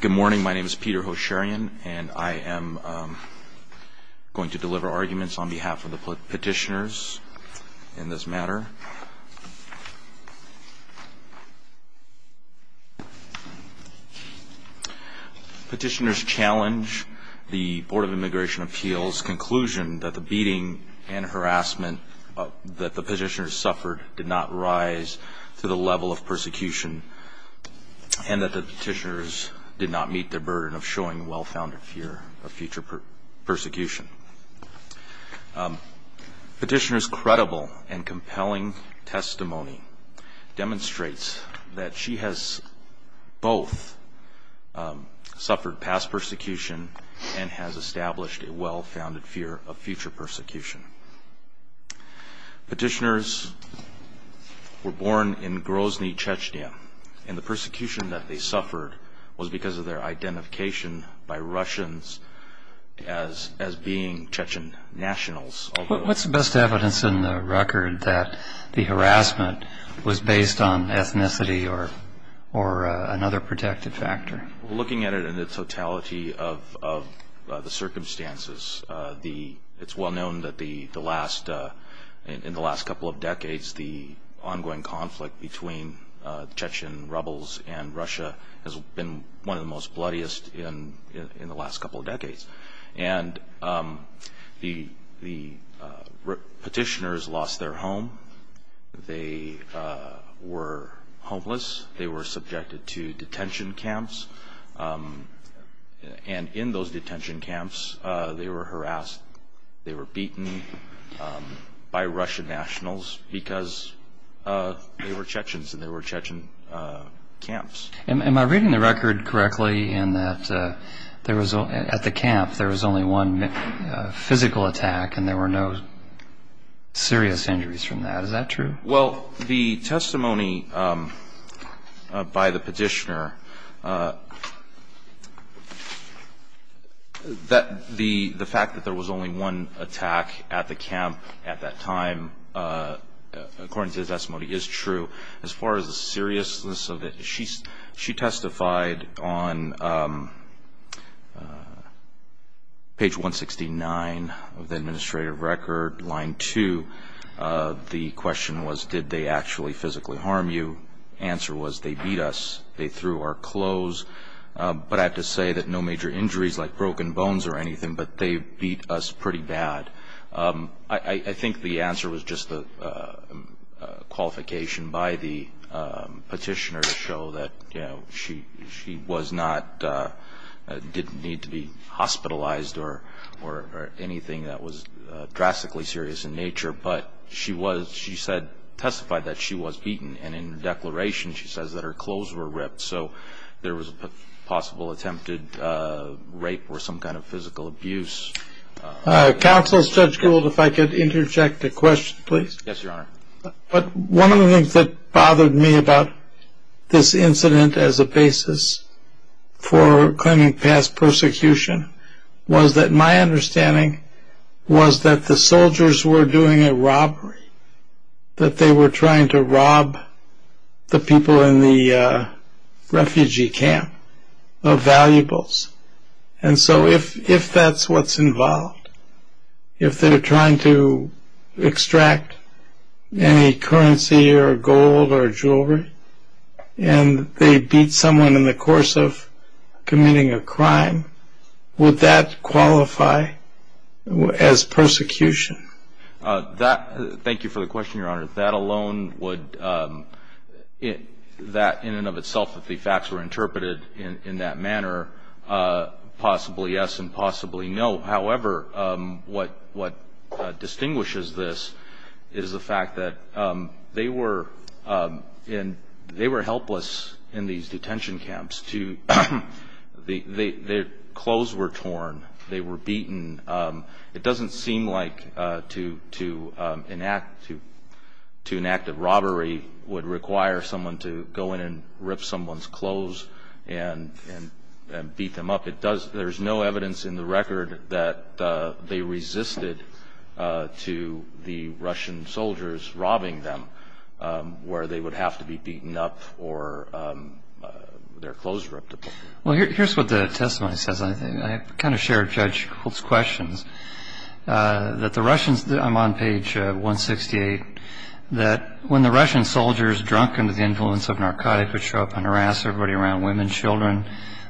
Good morning, my name is Peter Hosharyan, and I am going to deliver arguments on behalf of the petitioners in this matter. Petitioners challenge the Board of Immigration Appeals' conclusion that the beating and harassment that the petitioners suffered did not rise to the level of persecution, and that the petitioners did not meet their burden of showing well-founded fear of future persecution. Petitioner's credible and compelling testimony demonstrates that she has both suffered past persecution and has established a well-founded fear of future persecution. Petitioners were born in Grozny, Chechnya, and the persecution that they suffered was because of their identification by Russians as being Chechen nationals. What's the best evidence in the record that the harassment was based on ethnicity or another protective factor? Looking at it in the totality of the circumstances, it's well known that in the last couple of decades, the ongoing conflict between Chechen rebels and Russia has been one of the most bloodiest in the last couple of decades. And the petitioners lost their home. They were homeless. They were subjected to detention camps, and in those detention camps, they were harassed. They were beaten by Russian nationals because they were Chechens and they were Chechen camps. Am I reading the record correctly in that at the camp, there was only one physical attack and there were no serious injuries from that? Is that true? Well, the testimony by the petitioner, the fact that there was only one attack at the camp at that time, according to the testimony, is true. As far as the seriousness of it, she testified on page 169 of the administrative record, line 2. The question was, did they actually physically harm you? The answer was, they beat us. They threw our clothes. But I have to say that no major injuries like broken bones or anything, but they beat us pretty bad. I think the answer was just a qualification by the petitioner to show that she didn't need to be hospitalized or anything that was drastically serious in nature. But she testified that she was beaten, and in her declaration, she says that her clothes were ripped. So there was a possible attempted rape or some kind of physical abuse. Counsel Judge Gould, if I could interject a question, please. Yes, Your Honor. One of the things that bothered me about this incident as a basis for claiming past persecution was that my understanding was that the soldiers were doing a robbery, that they were trying to rob the people in the refugee camp of valuables. And so if that's what's involved, if they're trying to extract any currency or gold or jewelry, and they beat someone in the course of committing a crime, would that qualify as persecution? Thank you for the question, Your Honor. That alone would, in and of itself, if the facts were interpreted in that manner, possibly yes and possibly no. However, what distinguishes this is the fact that they were helpless in these detention camps. Their clothes were torn. They were beaten. It doesn't seem like to enact a robbery would require someone to go in and rip someone's clothes and beat them up. There's no evidence in the record that they resisted to the Russian soldiers robbing them, where they would have to be beaten up or their clothes ripped. Well, here's what the testimony says. I kind of share Judge Holt's questions. I'm on page 168. That when the Russian soldiers, drunken with the influence of narcotics, would show up and harass everybody around, women, children,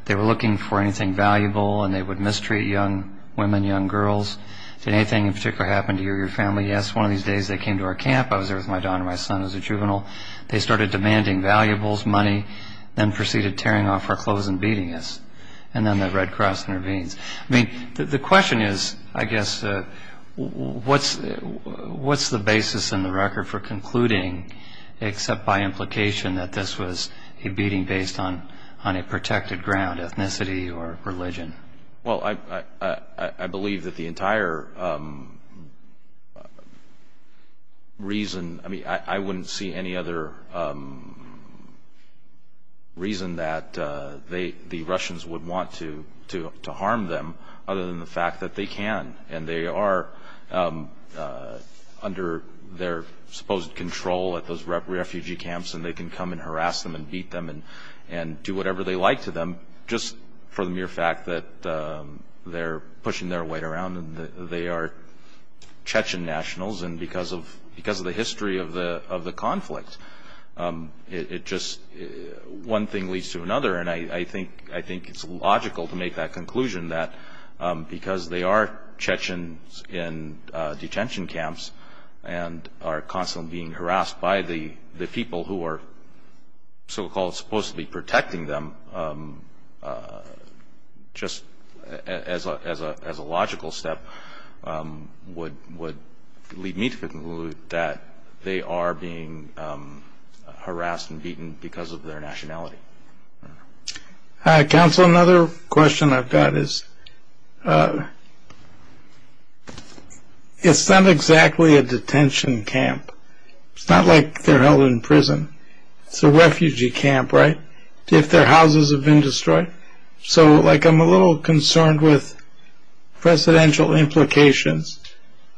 they were looking for anything valuable, and they would mistreat young women, young girls. Did anything in particular happen to you or your family? Yes, one of these days they came to our camp. I was there with my daughter and my son as a juvenile. They started demanding valuables, money, then proceeded tearing off our clothes and beating us. And then the Red Cross intervenes. I mean, the question is, I guess, what's the basis in the record for concluding, except by implication, that this was a beating based on a protected ground, ethnicity or religion? Well, I believe that the entire reason, I mean, I wouldn't see any other reason that the Russians would want to harm them other than the fact that they can. And they are under their supposed control at those refugee camps, and they can come and harass them and beat them and do whatever they like to them, just for the mere fact that they're pushing their weight around. They are Chechen nationals, and because of the history of the conflict, it just, one thing leads to another. And I think it's logical to make that conclusion, that because they are Chechens in detention camps and are constantly being harassed by the people who are so-called supposed to be protecting them, just as a logical step, would lead me to conclude that they are being harassed and beaten because of their nationality. Counsel, another question I've got is, it's not exactly a detention camp. It's not like they're held in prison. It's a refugee camp, right, if their houses have been destroyed. So, like, I'm a little concerned with presidential implications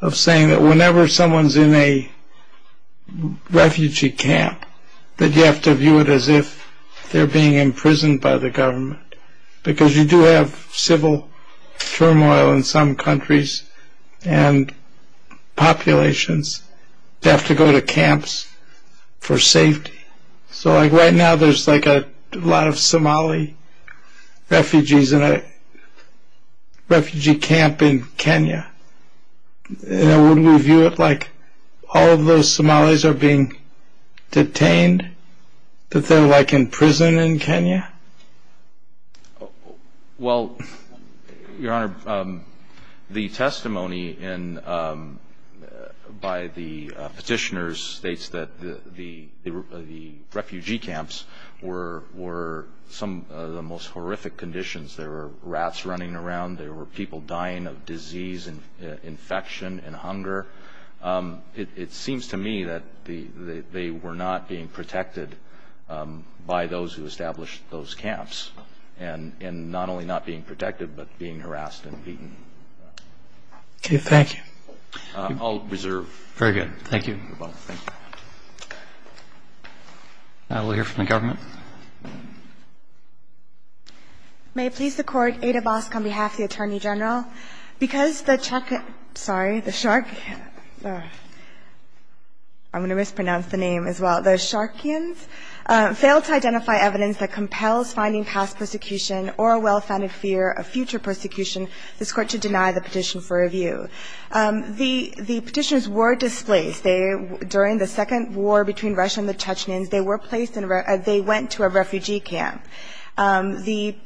of saying that whenever someone's in a refugee camp, that you have to view it as if they're being imprisoned by the government. Because you do have civil turmoil in some countries, and populations have to go to camps for safety. So, like, right now there's, like, a lot of Somali refugees in a refugee camp in Kenya. And wouldn't we view it like all of those Somalis are being detained, that they're, like, in prison in Kenya? Well, Your Honor, the testimony by the petitioners states that the refugee camps were some of the most horrific conditions. There were rats running around. There were people dying of disease and infection and hunger. It seems to me that they were not being protected by those who established those camps, and not only not being protected, but being harassed and beaten. Okay, thank you. I'll reserve. Very good. Thank you. We'll hear from the government. Thank you. May it please the Court, Ada Bosk on behalf of the Attorney General. Because the Charkins – sorry, the Charkins – I'm going to mispronounce the name as well. The Charkins failed to identify evidence that compels finding past persecution or a well-founded fear of future persecution. This Court should deny the petition for review. The petitioners were displaced. They – during the second war between Russia and the Chechnyans, they were placed in a – they went to a refugee camp. The –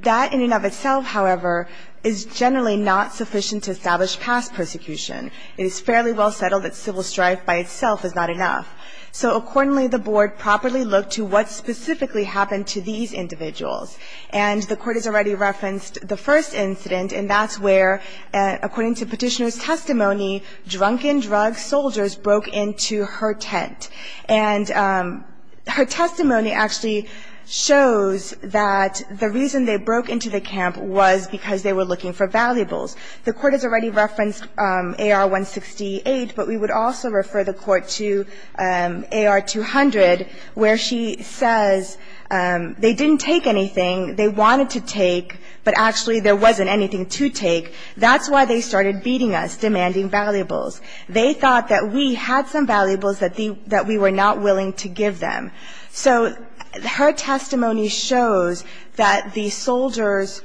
that in and of itself, however, is generally not sufficient to establish past persecution. It is fairly well settled that civil strife by itself is not enough. So accordingly, the Board properly looked to what specifically happened to these individuals. And the Court has already referenced the first incident, and that's where, according to Petitioner's testimony, drunken drug soldiers broke into her tent. And her testimony actually shows that the reason they broke into the camp was because they were looking for valuables. The Court has already referenced AR-168, but we would also refer the Court to AR-200, where she says they didn't take anything. They wanted to take, but actually there wasn't anything to take. That's why they started beating us, demanding valuables. They thought that we had some valuables that we were not willing to give them. So her testimony shows that the soldiers,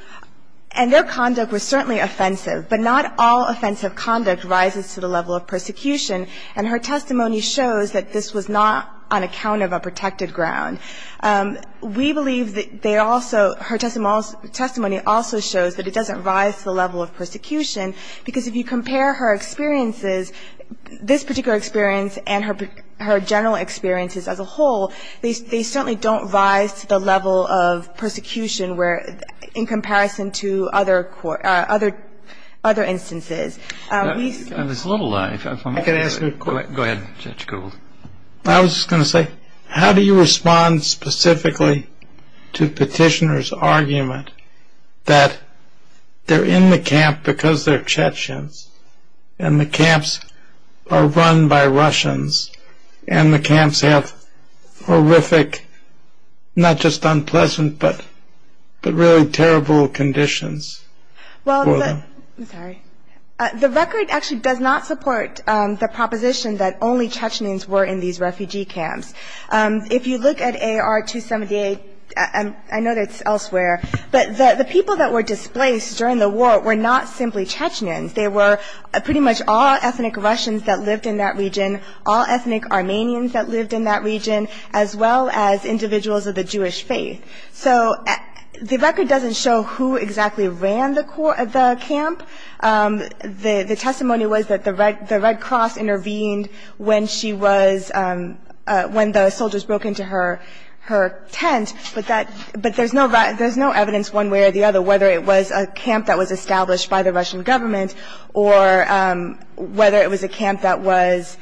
and their conduct was certainly offensive, but not all offensive conduct rises to the level of persecution. And her testimony shows that this was not on account of a protected ground. We believe that they also, her testimony also shows that it doesn't rise to the level of persecution, because if you compare her experiences, this particular experience and her general experiences as a whole, they certainly don't rise to the level of persecution where, in comparison to other instances. There's a little light. Go ahead, Judge Gould. I was just going to say, how do you respond specifically to Petitioner's argument that they're in the camp because they're Chechens, and the camps are run by Russians, and the camps have horrific, not just unpleasant, but really terrible conditions for them? Well, I'm sorry. The record actually does not support the proposition that only Chechens were in these refugee camps. If you look at AR-278, I know that it's elsewhere, but the people that were displaced during the war were not simply Chechens. They were pretty much all ethnic Russians that lived in that region, all ethnic Armenians that lived in that region, as well as individuals of the Jewish faith. So the record doesn't show who exactly ran the camp. The testimony was that the Red Cross intervened when the soldiers broke into her tent, but there's no evidence one way or the other whether it was a camp that was established by the Russian government or whether it was a camp that was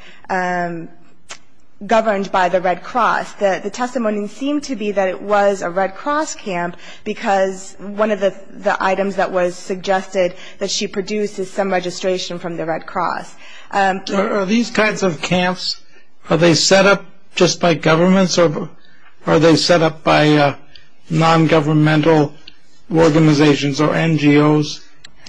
governed by the Red Cross. The testimony seemed to be that it was a Red Cross camp because one of the items that was suggested that she produced is some registration from the Red Cross. Are these kinds of camps, are they set up just by governments, or are they set up by non-governmental organizations or NGOs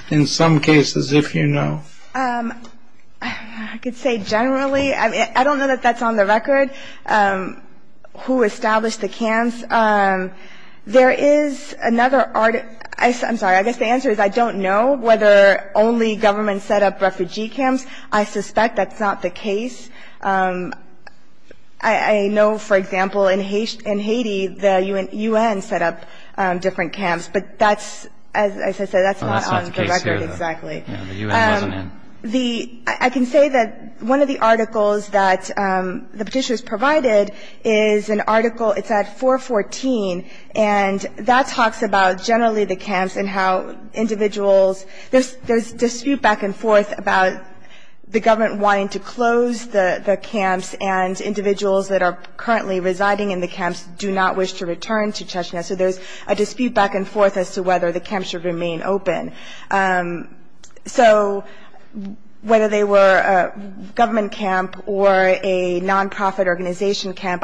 in some cases, if you know? I could say generally. I don't know that that's on the record, who established the camps. There is another – I'm sorry, I guess the answer is I don't know whether only governments set up refugee camps. I suspect that's not the case. I know, for example, in Haiti, the UN set up different camps, but that's – as I said, that's not on the record exactly. Yeah, the UN wasn't in. The – I can say that one of the articles that the petitioners provided is an article. It's at 414, and that talks about generally the camps and how individuals – there's dispute back and forth about the government wanting to close the camps and individuals that are currently residing in the camps do not wish to return to Chechnya. So there's a dispute back and forth as to whether the camps should remain open. So whether they were a government camp or a nonprofit organization camp,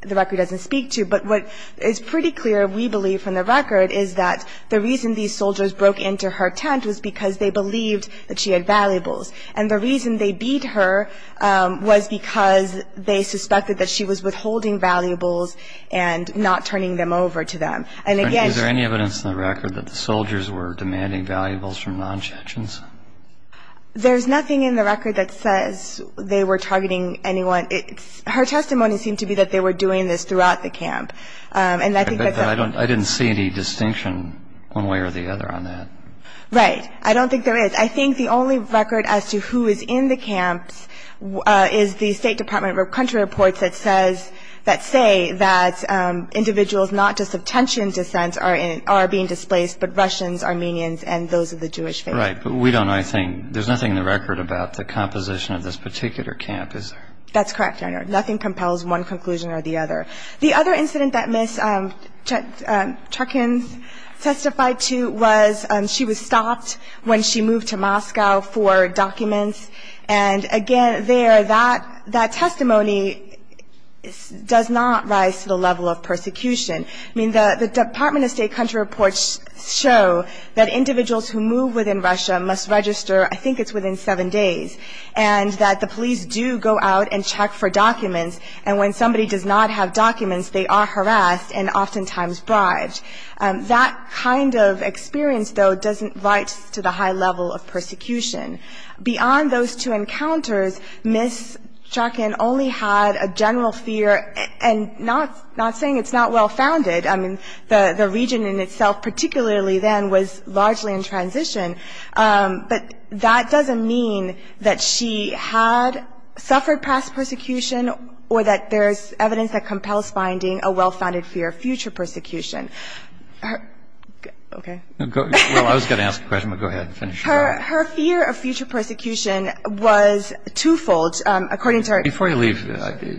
the record doesn't speak to. But what is pretty clear, we believe from the record, is that the reason these soldiers broke into her tent was because they believed that she had valuables. And the reason they beat her was because they suspected that she was withholding valuables and not turning them over to them. Is there any evidence in the record that the soldiers were demanding valuables from non-Chechens? There's nothing in the record that says they were targeting anyone. Her testimony seemed to be that they were doing this throughout the camp. I didn't see any distinction one way or the other on that. Right. I don't think there is. I think the only record as to who is in the camps is the State Department of Country reports that says – are being displaced, but Russians, Armenians, and those of the Jewish faith. Right. But we don't know anything. There's nothing in the record about the composition of this particular camp, is there? That's correct, Your Honor. Nothing compels one conclusion or the other. The other incident that Ms. Cherkins testified to was she was stopped when she moved to Moscow for documents. And, again, there, that testimony does not rise to the level of persecution. I mean, the Department of State country reports show that individuals who move within Russia must register, I think it's within seven days, and that the police do go out and check for documents. And when somebody does not have documents, they are harassed and oftentimes bribed. That kind of experience, though, doesn't rise to the high level of persecution. Beyond those two encounters, Ms. Cherkins only had a general fear, and not saying it's not well-founded. I mean, the region in itself, particularly then, was largely in transition. But that doesn't mean that she had suffered past persecution or that there's evidence that compels finding a well-founded fear of future persecution. Okay. Well, I was going to ask a question, but go ahead and finish. Her fear of future persecution was twofold, according to her. Before you leave the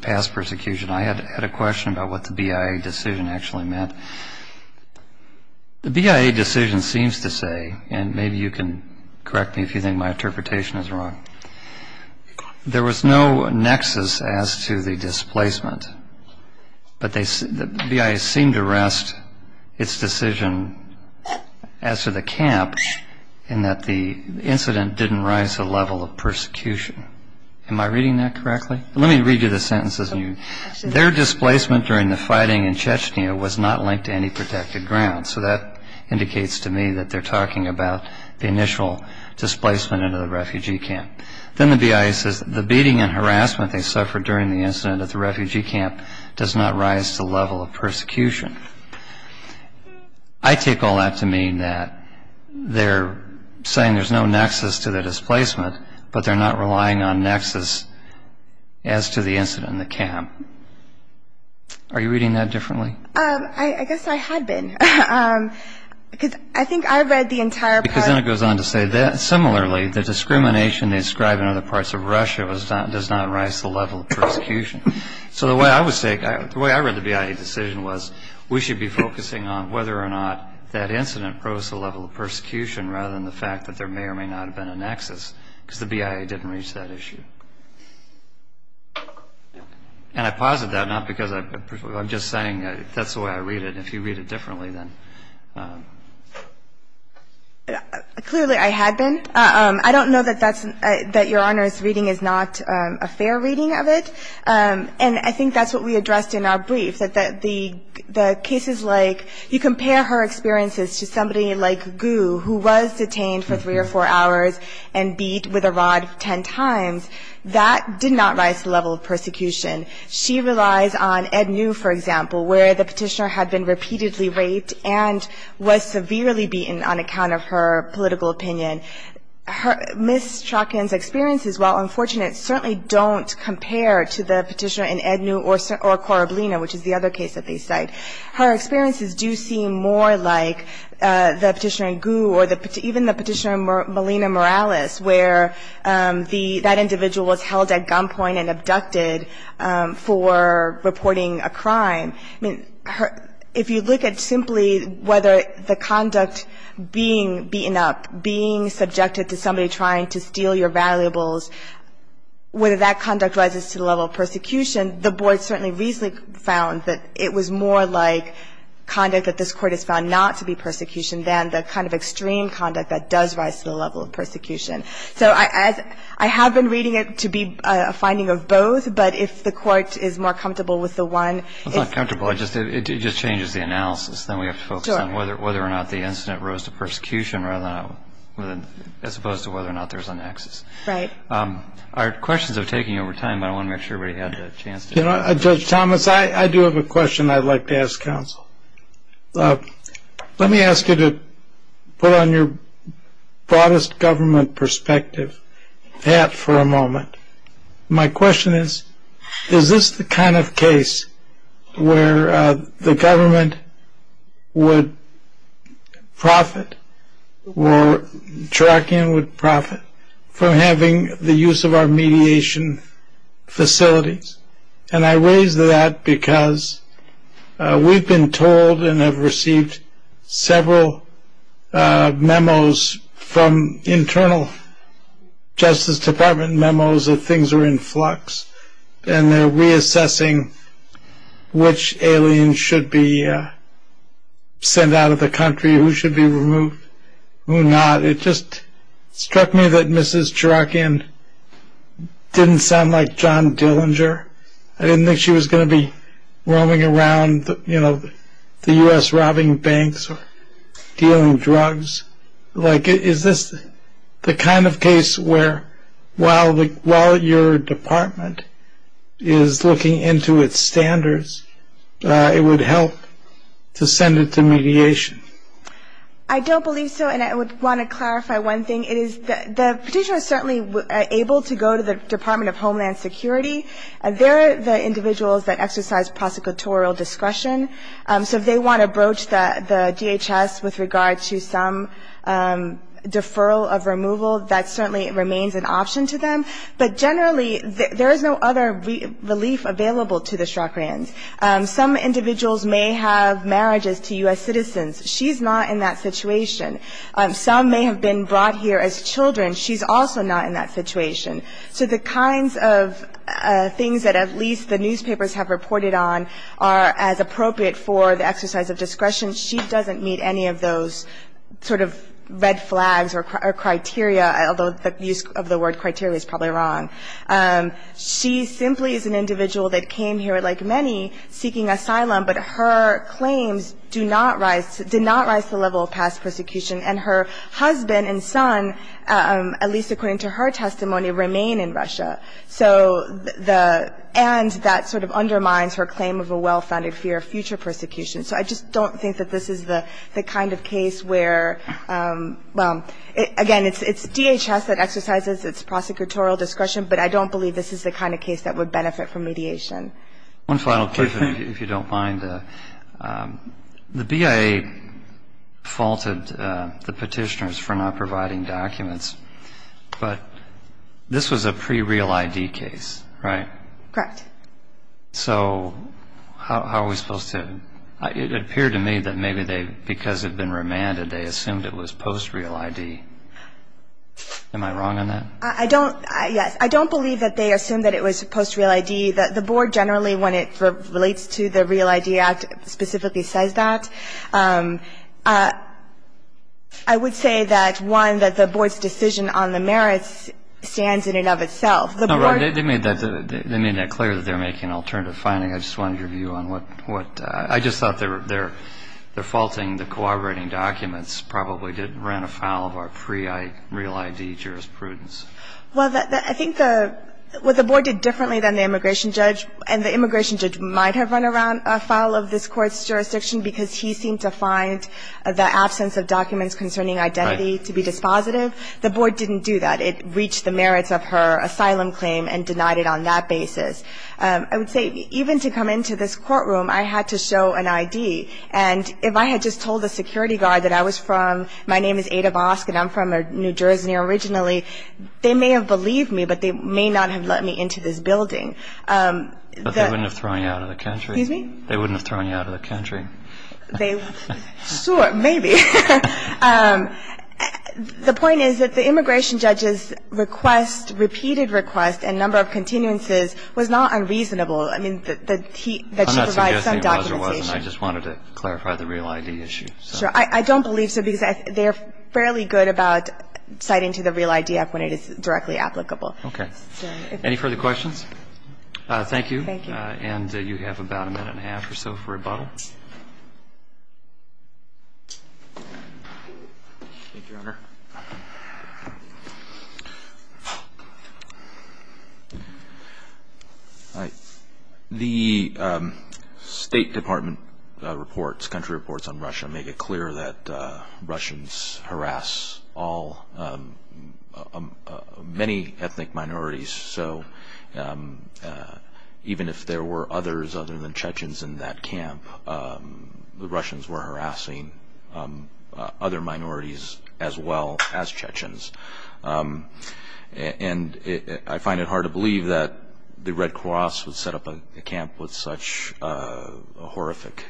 past persecution, I had a question about what the BIA decision actually meant. The BIA decision seems to say, and maybe you can correct me if you think my interpretation is wrong, there was no nexus as to the displacement. But the BIA seemed to rest its decision as to the camp in that the incident didn't rise to the level of persecution. Am I reading that correctly? Let me read you the sentences. Their displacement during the fighting in Chechnya was not linked to any protected ground. So that indicates to me that they're talking about the initial displacement into the refugee camp. Then the BIA says the beating and harassment they suffered during the incident at the refugee camp does not rise to the level of persecution. I take all that to mean that they're saying there's no nexus to the displacement, but they're not relying on nexus as to the incident in the camp. Are you reading that differently? I guess I had been, because I think I read the entire part. Because then it goes on to say, similarly, the discrimination they describe in other parts of Russia does not rise to the level of persecution. So the way I read the BIA decision was we should be focusing on whether or not that incident rose to the level of persecution rather than the fact that there may or may not have been a nexus, because the BIA didn't reach that issue. And I posit that, not because I'm just saying that's the way I read it. If you read it differently, then... Clearly, I had been. I don't know that that's – that Your Honor's reading is not a fair reading of it. And I think that's what we addressed in our brief, that the cases like – you compare her experiences to somebody like Gu, who was detained for three or four hours and beat with a rod ten times. That did not rise to the level of persecution. She relies on Ednew, for example, where the petitioner had been repeatedly raped and was severely beaten on account of her political opinion. Ms. Chokin's experiences, while unfortunate, certainly don't compare to the petitioner in Ednew or Korablina, which is the other case that they cite. Her experiences do seem more like the petitioner in Gu or even the petitioner in Molina Morales, where that individual was held at gunpoint and abducted for reporting a crime. I mean, if you look at simply whether the conduct being beaten up, being subjected to somebody trying to steal your valuables, whether that conduct rises to the level of persecution, the Board certainly recently found that it was more like conduct that this Court has found not to be persecution than the kind of extreme conduct that does rise to the level of persecution. So I have been reading it to be a finding of both, but if the Court is more comfortable with the one – It's not comfortable. It just changes the analysis. Then we have to focus on whether or not the incident rose to persecution rather than – as opposed to whether or not there's an axis. Right. Our questions are taking over time, but I want to make sure everybody had a chance to – Judge Thomas, I do have a question I'd like to ask counsel. Let me ask you to put on your broadest government perspective that for a moment. My question is, is this the kind of case where the government would profit or Cherokee would profit from having the use of our mediation facilities? And I raise that because we've been told and have received several memos from internal Justice Department memos that things are in flux, and they're reassessing which aliens should be sent out of the country, who should be removed, who not. It just struck me that Mrs. Cherokee didn't sound like John Dillinger. I didn't think she was going to be roaming around the U.S. robbing banks or dealing drugs. Is this the kind of case where while your department is looking into its standards, it would help to send it to mediation? I don't believe so, and I would want to clarify one thing. It is – the petitioner is certainly able to go to the Department of Homeland Security. They're the individuals that exercise prosecutorial discretion. So if they want to broach the DHS with regard to some deferral of removal, that certainly remains an option to them. But generally, there is no other relief available to the Cherokees. Some individuals may have marriages to U.S. citizens. She's not in that situation. Some may have been brought here as children. She's also not in that situation. So the kinds of things that at least the newspapers have reported on are as appropriate for the exercise of discretion. She doesn't meet any of those sort of red flags or criteria, although the use of the word criteria is probably wrong. She simply is an individual that came here, like many, seeking asylum, but her claims do not rise – did not rise to the level of past persecution. And her husband and son, at least according to her testimony, remain in Russia. So the – and that sort of undermines her claim of a well-founded fear of future persecution. So I just don't think that this is the kind of case where – well, again, it's DHS that exercises its prosecutorial discretion, but I don't believe this is the kind of case that would benefit from mediation. One final question, if you don't mind. The BIA faulted the petitioners for not providing documents, but this was a pre-real ID case, right? Correct. So how are we supposed to – it appeared to me that maybe they, because it had been remanded, they assumed it was post-real ID. Am I wrong on that? I don't – yes. I don't believe that they assumed that it was post-real ID. The Board generally, when it relates to the Real ID Act, specifically says that. I would say that, one, that the Board's decision on the merits stands in and of itself. The Board – No, they made that – they made that clear that they're making alternative finding. I just wanted your view on what – what – Well, I think the – what the Board did differently than the immigration judge, and the immigration judge might have run around a file of this Court's jurisdiction because he seemed to find the absence of documents concerning identity to be dispositive. The Board didn't do that. It reached the merits of her asylum claim and denied it on that basis. I would say even to come into this courtroom, I had to show an ID. I told the security guard that I was from – my name is Ada Vosk, and I'm from New Jersey originally. They may have believed me, but they may not have let me into this building. But they wouldn't have thrown you out of the country. Excuse me? They wouldn't have thrown you out of the country. They – sure, maybe. The point is that the immigration judge's request, repeated request, and number of continuances was not unreasonable. I mean, that he – that she provided some documentation. I just wanted to clarify the real ID issue. Sure. I don't believe so, because they are fairly good about citing to the real ID app when it is directly applicable. Okay. Any further questions? Thank you. Thank you. And you have about a minute and a half or so for rebuttal. Thank you, Your Honor. All right. The State Department reports, country reports on Russia make it clear that Russians harass all – many ethnic minorities. So even if there were others other than Chechens in that camp, the Russians were harassing other minorities as well as Chechens. And I find it hard to believe that the Red Cross would set up a camp with such horrific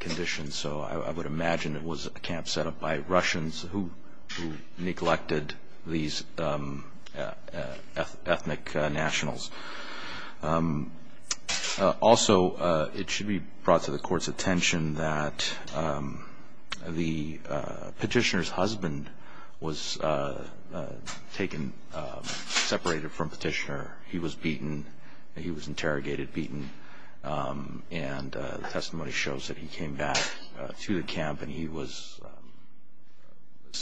conditions. So I would imagine it was a camp set up by Russians who neglected these ethnic nationals. Also, it should be brought to the Court's attention that the petitioner's husband was taken – separated from petitioner. He was beaten. He was interrogated, beaten. And the testimony shows that he came back to the camp and he was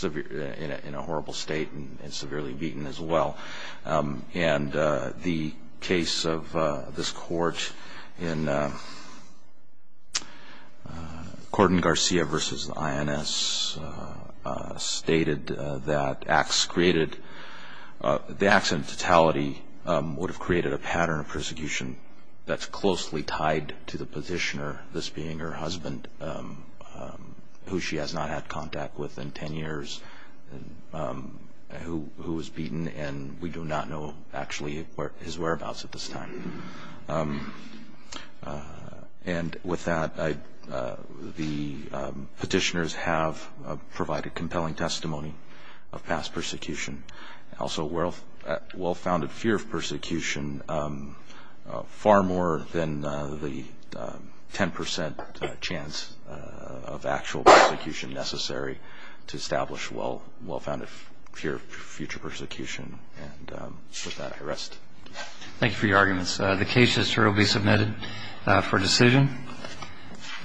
in a horrible state and severely beaten as well. And the case of this Court in Gordon Garcia v. INS stated that acts created – have created a pattern of persecution that's closely tied to the petitioner, this being her husband, who she has not had contact with in 10 years, who was beaten. And we do not know, actually, his whereabouts at this time. And with that, the petitioners have provided compelling testimony of past persecution. Also, well-founded fear of persecution far more than the 10 percent chance of actual persecution necessary to establish well-founded fear of future persecution. And with that, I rest. Thank you for your arguments. The case history will be submitted for decision.